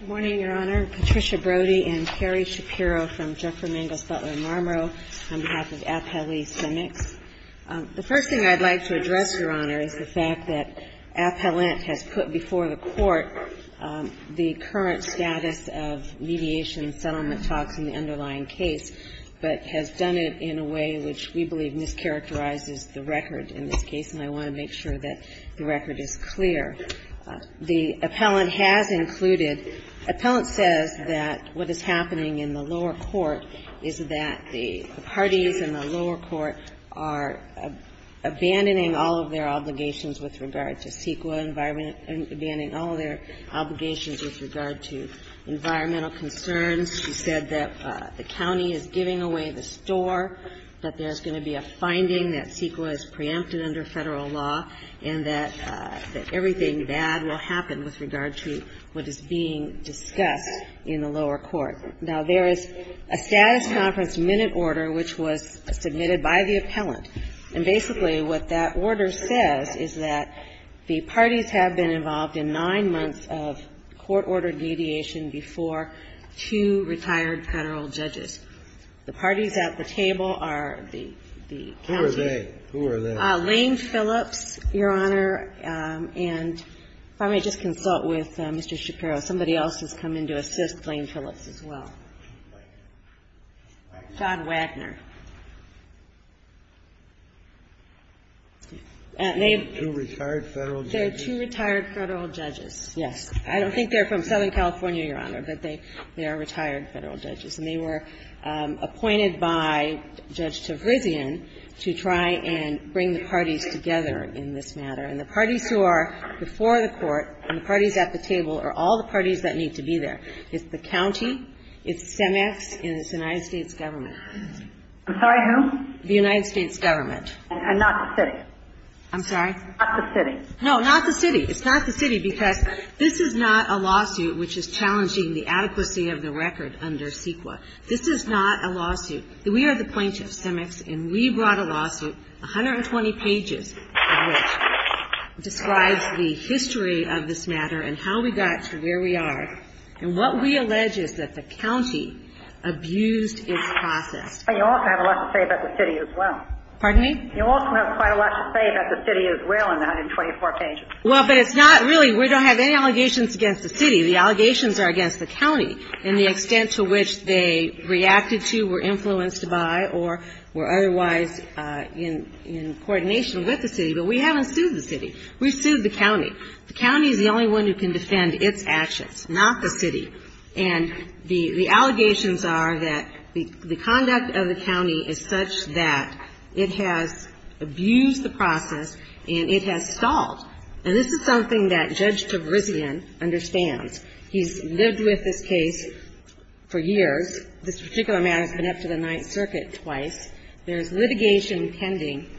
Good morning, Your Honor. Patricia Brody and Carrie Shapiro from Jeffrey Mangus Butler-Marmorow on behalf of Appellee Simmicks. The first thing I'd like to address, Your Honor, is the fact that Appellant has put before the Court the current status of mediation and settlement talks in the underlying case, but has done it in a way which we believe mischaracterizes the record in this case, and I want to make sure that the record is clear. The Appellant has included, Appellant says that what is happening in the lower court is that the parties in the lower court are abandoning all of their obligations with regard to CEQA environment, abandoning all of their obligations with regard to environmental concerns. She said that the county is giving away the store, that there's going to be a finding that CEQA is preempted under Federal law, and that everything bad will happen with regard to what is being discussed in the lower court. Now, there is a status conference minute order which was submitted by the Appellant, and basically what that order says is that the parties have been involved in nine months of court-ordered mediation before two retired Federal judges. The parties at the table are the county. Kennedy, who are they? Lane Phillips, Your Honor, and if I may just consult with Mr. Shapiro. Somebody else has come in to assist Lane Phillips as well. John Wagner. They're two retired Federal judges. Yes. I don't think they're from Southern California, Your Honor, but they are retired Federal judges. And they were appointed by Judge Tavrizian to try and bring the parties together in this matter. And the parties who are before the court and the parties at the table are all the parties that need to be there. It's the county, it's CEMEX, and it's the United States government. I'm sorry, who? The United States government. And not the city? I'm sorry? Not the city. No, not the city. It's not the city because this is not a lawsuit which is challenging the adequacy of the record under CEQA. This is not a lawsuit. We are the plaintiffs, CEMEX, and we brought a lawsuit, 120 pages of which describes the history of this matter and how we got to where we are. And what we allege is that the county abused its process. But you also have a lot to say about the city as well. Pardon me? You also have quite a lot to say about the city as well in the 124 pages. Well, but it's not really we don't have any allegations against the city. The allegations are against the county and the extent to which they reacted to, were influenced by, or were otherwise in coordination with the city. But we haven't sued the city. We've sued the county. The county is the only one who can defend its actions, not the city. And the allegations are that the conduct of the county is such that it has abused the process and it has stalled. And this is something that Judge Tavrizian understands. He's lived with this case for years. This particular matter has been up to the Ninth Circuit twice. There's litigation pending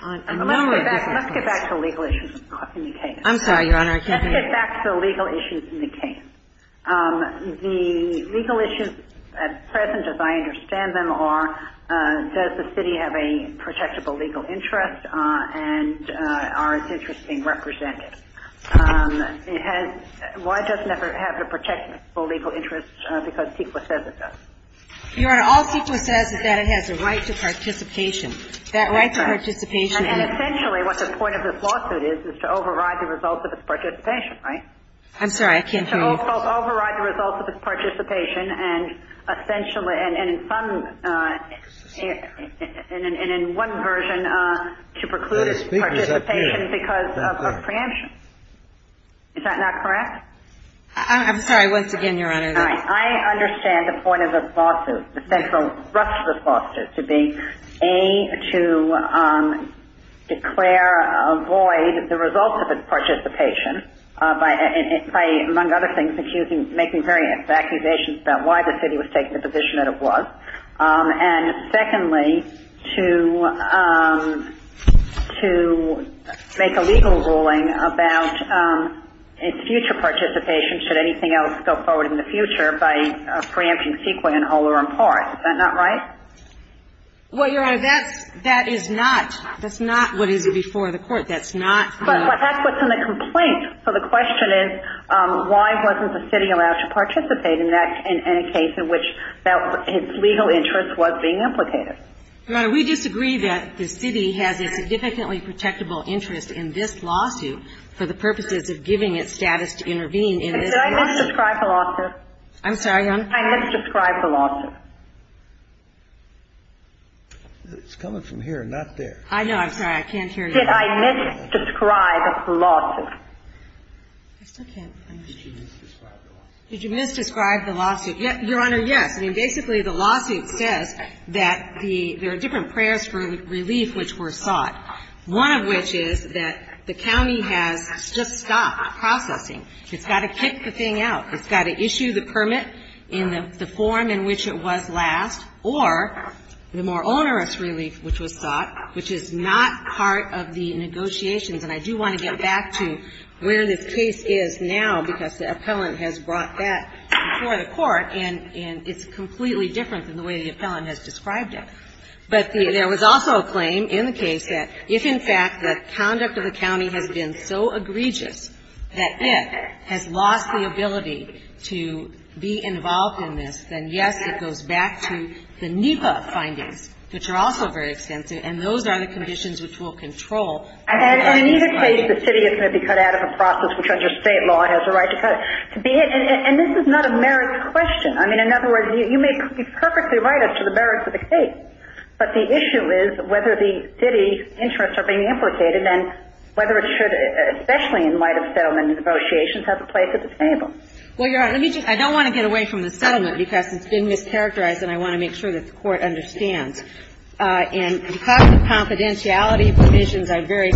on a number of different cases. Let's get back to legal issues in the case. I'm sorry, Your Honor, I can't hear you. Let's get back to the legal issues in the case. The legal issues at present, as I understand them, are does the city have a protectable legal interest and are its interests being represented? Why doesn't it have a protectable legal interest because CEQA says it does? Your Honor, all CEQA says is that it has a right to participation. That right to participation. And essentially what the point of this lawsuit is is to override the results of its participation, right? I'm sorry, I can't hear you. To override the results of its participation and essentially in one version to preclude its participation because of preemption. Is that not correct? I'm sorry, once again, Your Honor. All right. I understand the point of this lawsuit, the central thrust of this lawsuit, to be A, to declare a void the results of its participation by, among other things, making various accusations about why the city was taking the position that it was, And secondly, to make a legal ruling about its future participation, should anything else go forward in the future, by preempting CEQA in whole or in part. Is that not right? Well, Your Honor, that is not what is before the court. That's not the... But that's what's in the complaint. So the question is, why wasn't the city allowed to participate in that, in a case in which its legal interest was being implicated? Your Honor, we disagree that the city has a significantly protectable interest in this lawsuit for the purposes of giving it status to intervene in this lawsuit. Did I misdescribe the lawsuit? I'm sorry, Your Honor? Did I misdescribe the lawsuit? It's coming from here, not there. I know. I can't hear you. Did I misdescribe the lawsuit? I still can't find it. Did you misdescribe the lawsuit? Did you misdescribe the lawsuit? Your Honor, yes. I mean, basically, the lawsuit says that there are different prayers for relief which were sought, one of which is that the county has just stopped processing. It's got to kick the thing out. It's got to issue the permit in the form in which it was last, or the more onerous relief which was sought, which is not part of the negotiations. And I do want to get back to where this case is now, because the appellant has brought that before the Court, and it's completely different than the way the appellant has described it. But there was also a claim in the case that if, in fact, the conduct of the county has been so egregious that it has lost the ability to be involved in this, then, yes, it goes back to the NEPA findings, which are also very extensive, and those are the conditions which will control. And in either case, the city is going to be cut out of a process which, under State law, has a right to cut it. And this is not a merit question. I mean, in other words, you may be perfectly right as to the merits of the case, but the issue is whether the city's interests are being implicated and whether it should, especially in light of settlement negotiations, have a place at the table. Well, Your Honor, let me just – I don't want to get away from the settlement because it's been mischaracterized, and I want to make sure that the Court understands. And because of confidentiality provisions, I'm very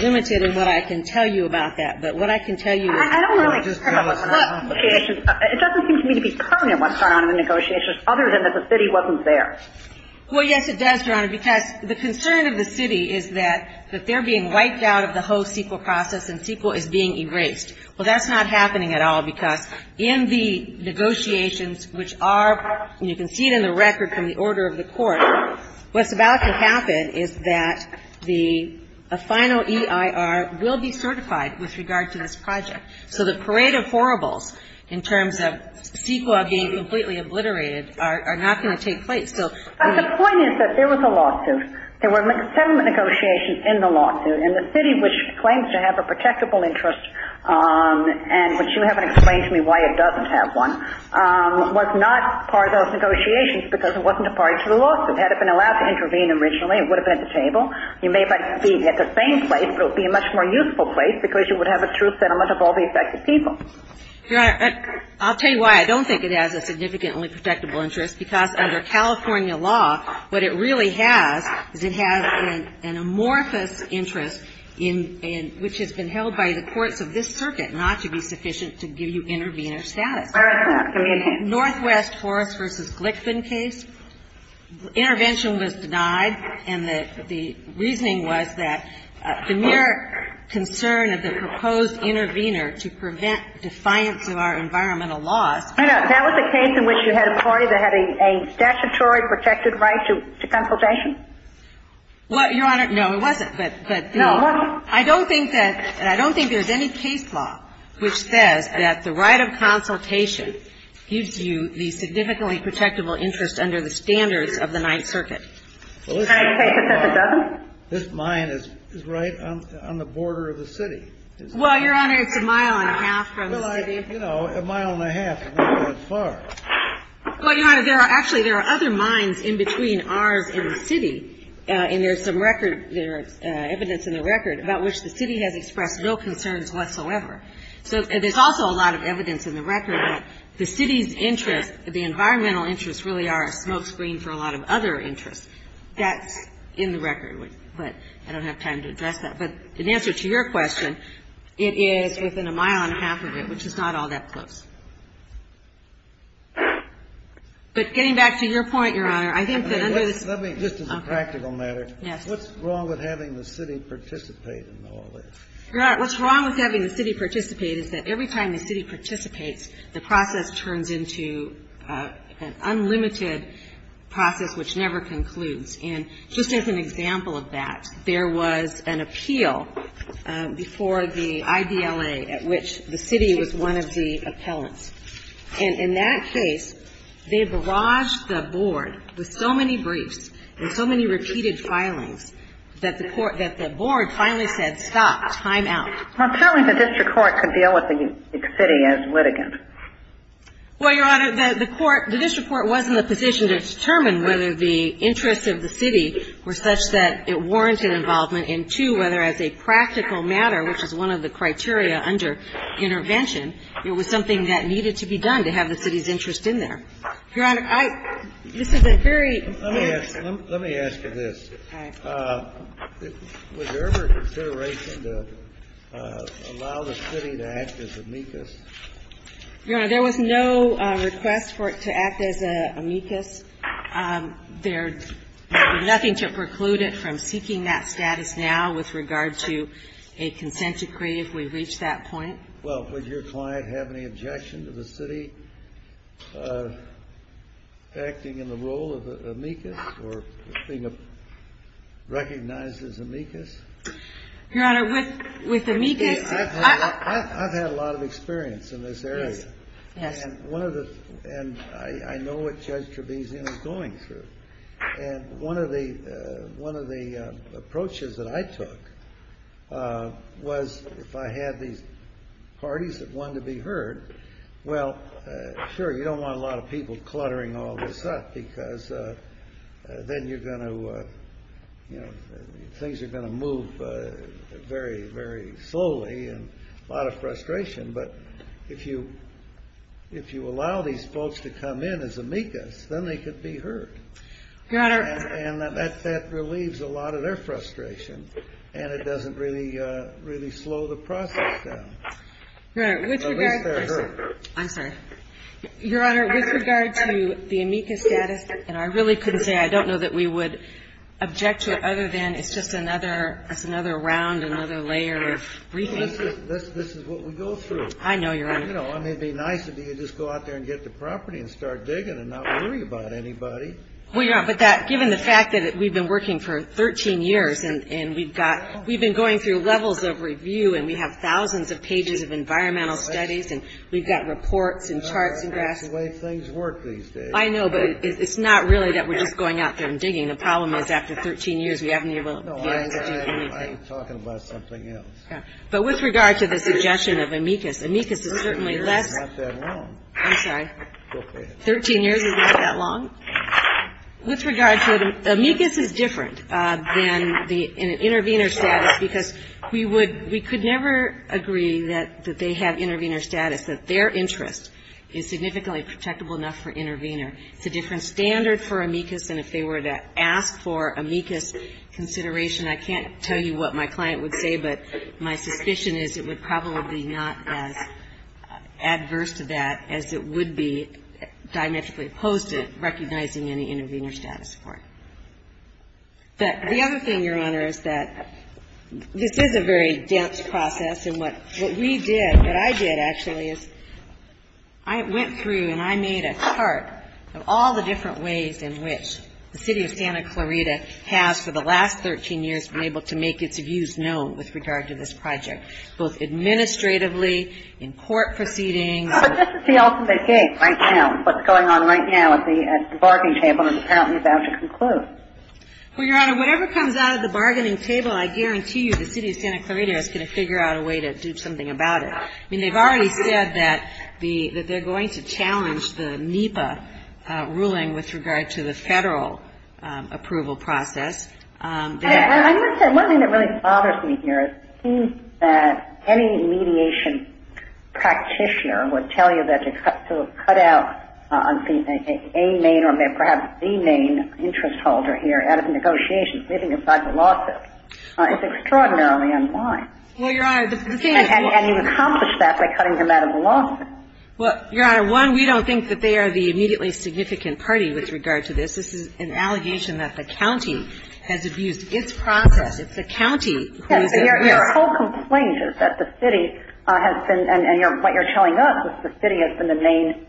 limited in what I can tell you about that. But what I can tell you is that the city is being cut out of negotiations. It doesn't seem to me to be permanent, what's going on in the negotiations, other than that the city wasn't there. Well, yes, it does, Your Honor, because the concern of the city is that they're being wiped out of the whole CEQA process and CEQA is being erased. Well, that's not happening at all, because in the negotiations, which are – and you can see it in the record from the order of the Court – what's about to happen is that the final EIR will be certified with regard to this project. So the parade of horribles in terms of CEQA being completely obliterated are not going to take place. But the point is that there was a lawsuit. There were settlement negotiations in the lawsuit, and the city, which claims to have a protectable interest and which you haven't explained to me why it doesn't have one, was not part of those negotiations because it wasn't a part of the lawsuit. Had it been allowed to intervene originally, it would have been at the table. You may be at the same place, but it would be a much more useful place because you would have a truth settlement of all the affected people. Your Honor, I'll tell you why. I don't think it has a significantly protectable interest, because under California law, what it really has is it has an amorphous interest in – which has been held by the courts of this circuit not to be sufficient to give you intervener status. Northwest Forrest v. Glickman case. Intervention was denied, and the reasoning was that the mere concern of the proposed intervener to prevent defiance of our environmental laws. And that was a case in which you had a party that had a statutory protected right to consultation? Well, Your Honor, no, it wasn't. But, you know, I don't think that – and I don't think there's any case law which says that the right of consultation gives you the significantly protectable interest under the standards of the Ninth Circuit. Can I take it that it doesn't? This mine is right on the border of the city. Well, Your Honor, it's a mile and a half from the city. Well, I – you know, a mile and a half doesn't go as far. Well, Your Honor, there are – actually, there are other mines in between ours and the city, and there's some record – there's evidence in the record about which the city has expressed no concerns whatsoever. So there's also a lot of evidence in the record that the city's interest, the environmental interest, really are a smokescreen for a lot of other interests. That's in the record, but I don't have time to address that. But in answer to your question, it is within a mile and a half of it, which is not all that close. But getting back to your point, Your Honor, I think that under this – Let me – just as a practical matter. Yes. What's wrong with having the city participate in all this? Your Honor, what's wrong with having the city participate is that every time the city participates, the process turns into an unlimited process which never concludes. And just as an example of that, there was an appeal before the IDLA at which the city was one of the appellants. And in that case, they barraged the board with so many briefs and so many repeated filings that the court – that the board finally said, stop, time out. Well, certainly the district court could deal with the city as litigant. Well, Your Honor, the court – the district court was in the position to determine whether the interests of the city were such that it warranted involvement and, two, whether as a practical matter, which is one of the criteria under intervention, it was something that needed to be done to have the city's interest in there. Your Honor, I – this is a very – Let me ask you this. All right. Your Honor, there was no request for it to act as amicus. There is nothing to preclude it from seeking that status now with regard to a consent decree if we reach that point. Well, would your client have any objection to the city acting in the role of amicus or being recognized as amicus? Your Honor, with amicus – I've had a lot of experience in this area. Yes, yes. And one of the – and I know what Judge Trebizion is going through. And one of the approaches that I took was if I had these parties that wanted to be heard, well, sure, you don't want a lot of people cluttering all this up because then you're going to – things are going to move very, very slowly and a lot of frustration. But if you allow these folks to come in as amicus, then they could be heard. Your Honor – And that relieves a lot of their frustration, and it doesn't really slow the process down. Your Honor, with regard – At least they're heard. I'm sorry. Your Honor, with regard to the amicus status, and I really couldn't say I don't know that we would object to it other than it's just another – it's another round, another layer of briefing. This is what we go through. I know, Your Honor. You know, I mean, it would be nice if you could just go out there and get the property and start digging and not worry about anybody. Well, Your Honor, but that – given the fact that we've been working for 13 years and we've got – we've been going through levels of review and we have thousands of pages of environmental studies and we've got reports and charts and graphs. Your Honor, that's the way things work these days. I know, but it's not really that we're just going out there and digging. The problem is after 13 years, we haven't been able to get into anything. No, I'm talking about something else. But with regard to the suggestion of amicus, amicus is certainly less – 13 years is not that long. I'm sorry. Go ahead. 13 years is not that long? With regard to – amicus is different than the intervener status because we would – we could never agree that they have intervener status, that their interest is significantly protectable enough for intervener. It's a different standard for amicus than if they were to ask for amicus consideration. I can't tell you what my client would say, but my suspicion is it would probably not as adverse to that as it would be diametrically opposed to recognizing any intervener status for it. The other thing, Your Honor, is that this is a very dense process. And what we did, what I did actually, is I went through and I made a chart of all the different ways in which the City of Santa Clarita has for the last 13 years been able to make its views known with regard to this project, both administratively, in court proceedings. But this is the ultimate case right now. What's going on right now at the bargaining table is apparently about to conclude. Well, Your Honor, whatever comes out of the bargaining table, I guarantee you the City of Santa Clarita is going to figure out a way to do something about it. I mean, they've already said that they're going to challenge the NEPA ruling with regard to the federal approval process. I would say one thing that really bothers me here is it seems that any mediation practitioner would tell you that to cut out a main or perhaps the main interest holder here out of negotiations, leaving aside the lawsuit, is extraordinarily unwise. And you accomplish that by cutting them out of the lawsuit. Well, Your Honor, one, we don't think that they are the immediately significant party with regard to this. This is an allegation that the county has abused its process. It's the county who is at risk. Your whole complaint is that the city has been – and what you're telling us is the city has been the main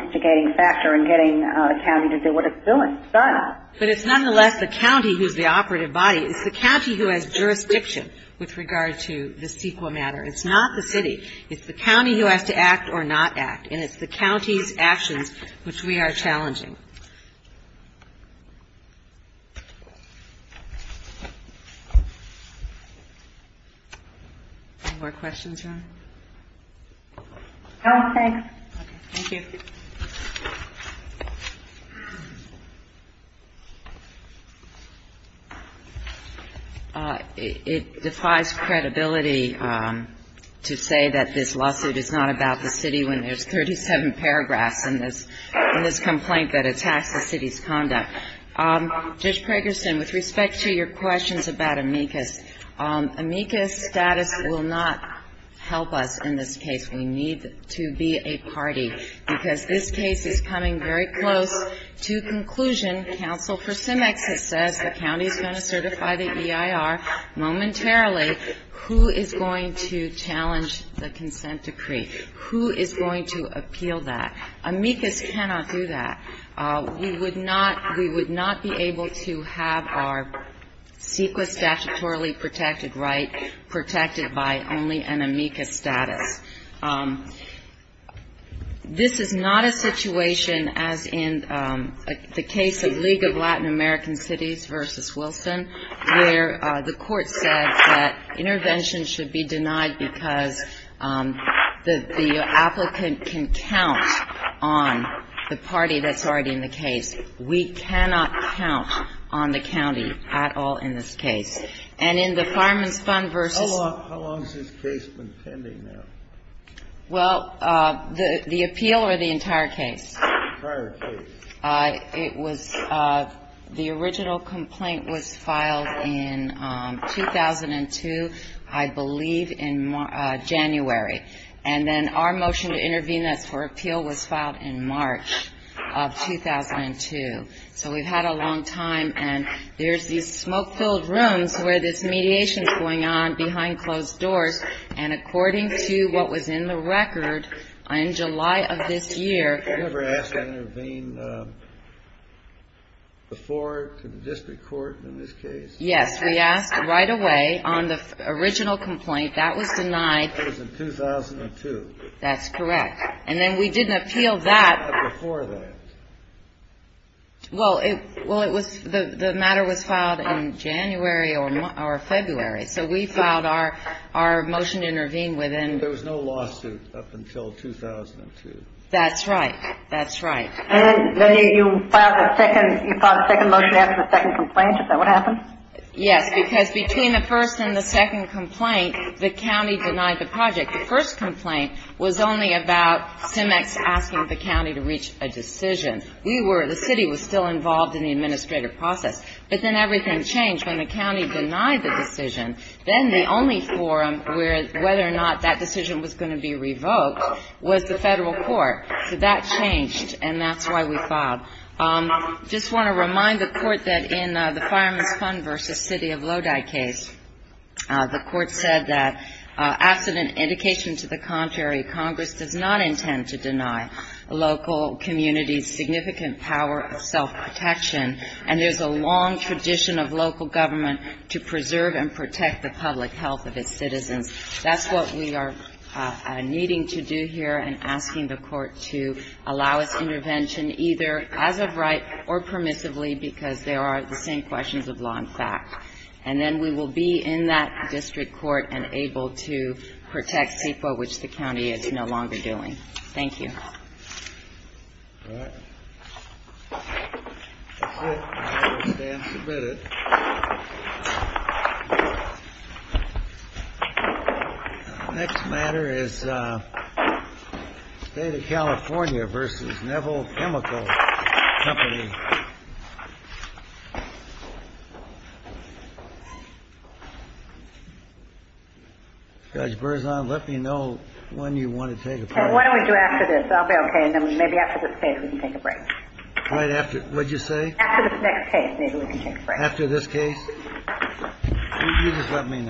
instigating factor in getting a county to do what it's doing. It's done. But it's nonetheless the county who's the operative body. It's the county who has jurisdiction with regard to the CEQA matter. It's not the city. It's the county who has to act or not act. And it's the county's actions which we are challenging. Any more questions, Your Honor? No, thanks. Okay. Thank you. It defies credibility to say that this lawsuit is not about the city when there's 37 paragraphs in this complaint that attacks the city's conduct. Judge Pragerson, with respect to your questions about amicus, amicus status will not help us in this case. We need to be a party because this case is coming very close to conclusion. Counsel for Symex has said the county is going to certify the EIR momentarily. Who is going to challenge the consent decree? Who is going to appeal that? Amicus cannot do that. We would not be able to have our CEQA statutorily protected right protected by only an amicus status. This is not a situation as in the case of League of Latin American Cities v. Wilson, where the court said that intervention should be denied because the applicant can count on the party that's already in the case. We cannot count on the county at all in this case. And in the Fireman's Fund v. ---- How long has this case been pending now? Well, the appeal or the entire case? The entire case. It was the original complaint was filed in 2002, I believe, in January. And then our motion to intervene that's for appeal was filed in March of 2002. So we've had a long time. And there's these smoke-filled rooms where this mediation is going on behind closed doors. And according to what was in the record in July of this year ---- Before to the district court in this case? Yes. We asked right away on the original complaint. That was denied. That was in 2002. That's correct. And then we didn't appeal that. Before that. Well, it was the matter was filed in January or February. So we filed our motion to intervene within ---- There was no lawsuit up until 2002. That's right. That's right. And then you filed a second ---- you filed a second motion after the second complaint. Is that what happened? Yes, because between the first and the second complaint, the county denied the project. The first complaint was only about CIMEX asking the county to reach a decision. We were ---- the city was still involved in the administrative process. But then everything changed. When the county denied the decision, then the only forum where whether or not that decision was going to be revoked was the Federal court. So that changed, and that's why we filed. I just want to remind the court that in the Fireman's Fund v. City of Lodi case, the court said that after an indication to the contrary, Congress does not intend to deny local communities significant power of self-protection, and there's a long tradition of local government to preserve and protect the public health of its citizens. That's what we are needing to do here and asking the court to allow us intervention either as of right or permissively because there are the same questions of law and fact. And then we will be in that district court and able to protect people, which the county is no longer doing. Thank you. All right. That's it. I understand. Submit it. Next matter is State of California v. Neville Chemical Company. Judge Berzon, let me know when you want to take a part. Why don't we do after this? I'll be okay. Maybe after this case we can take a break. Right after. What did you say? After this next case, maybe we can take a break. After this case? You just let me know.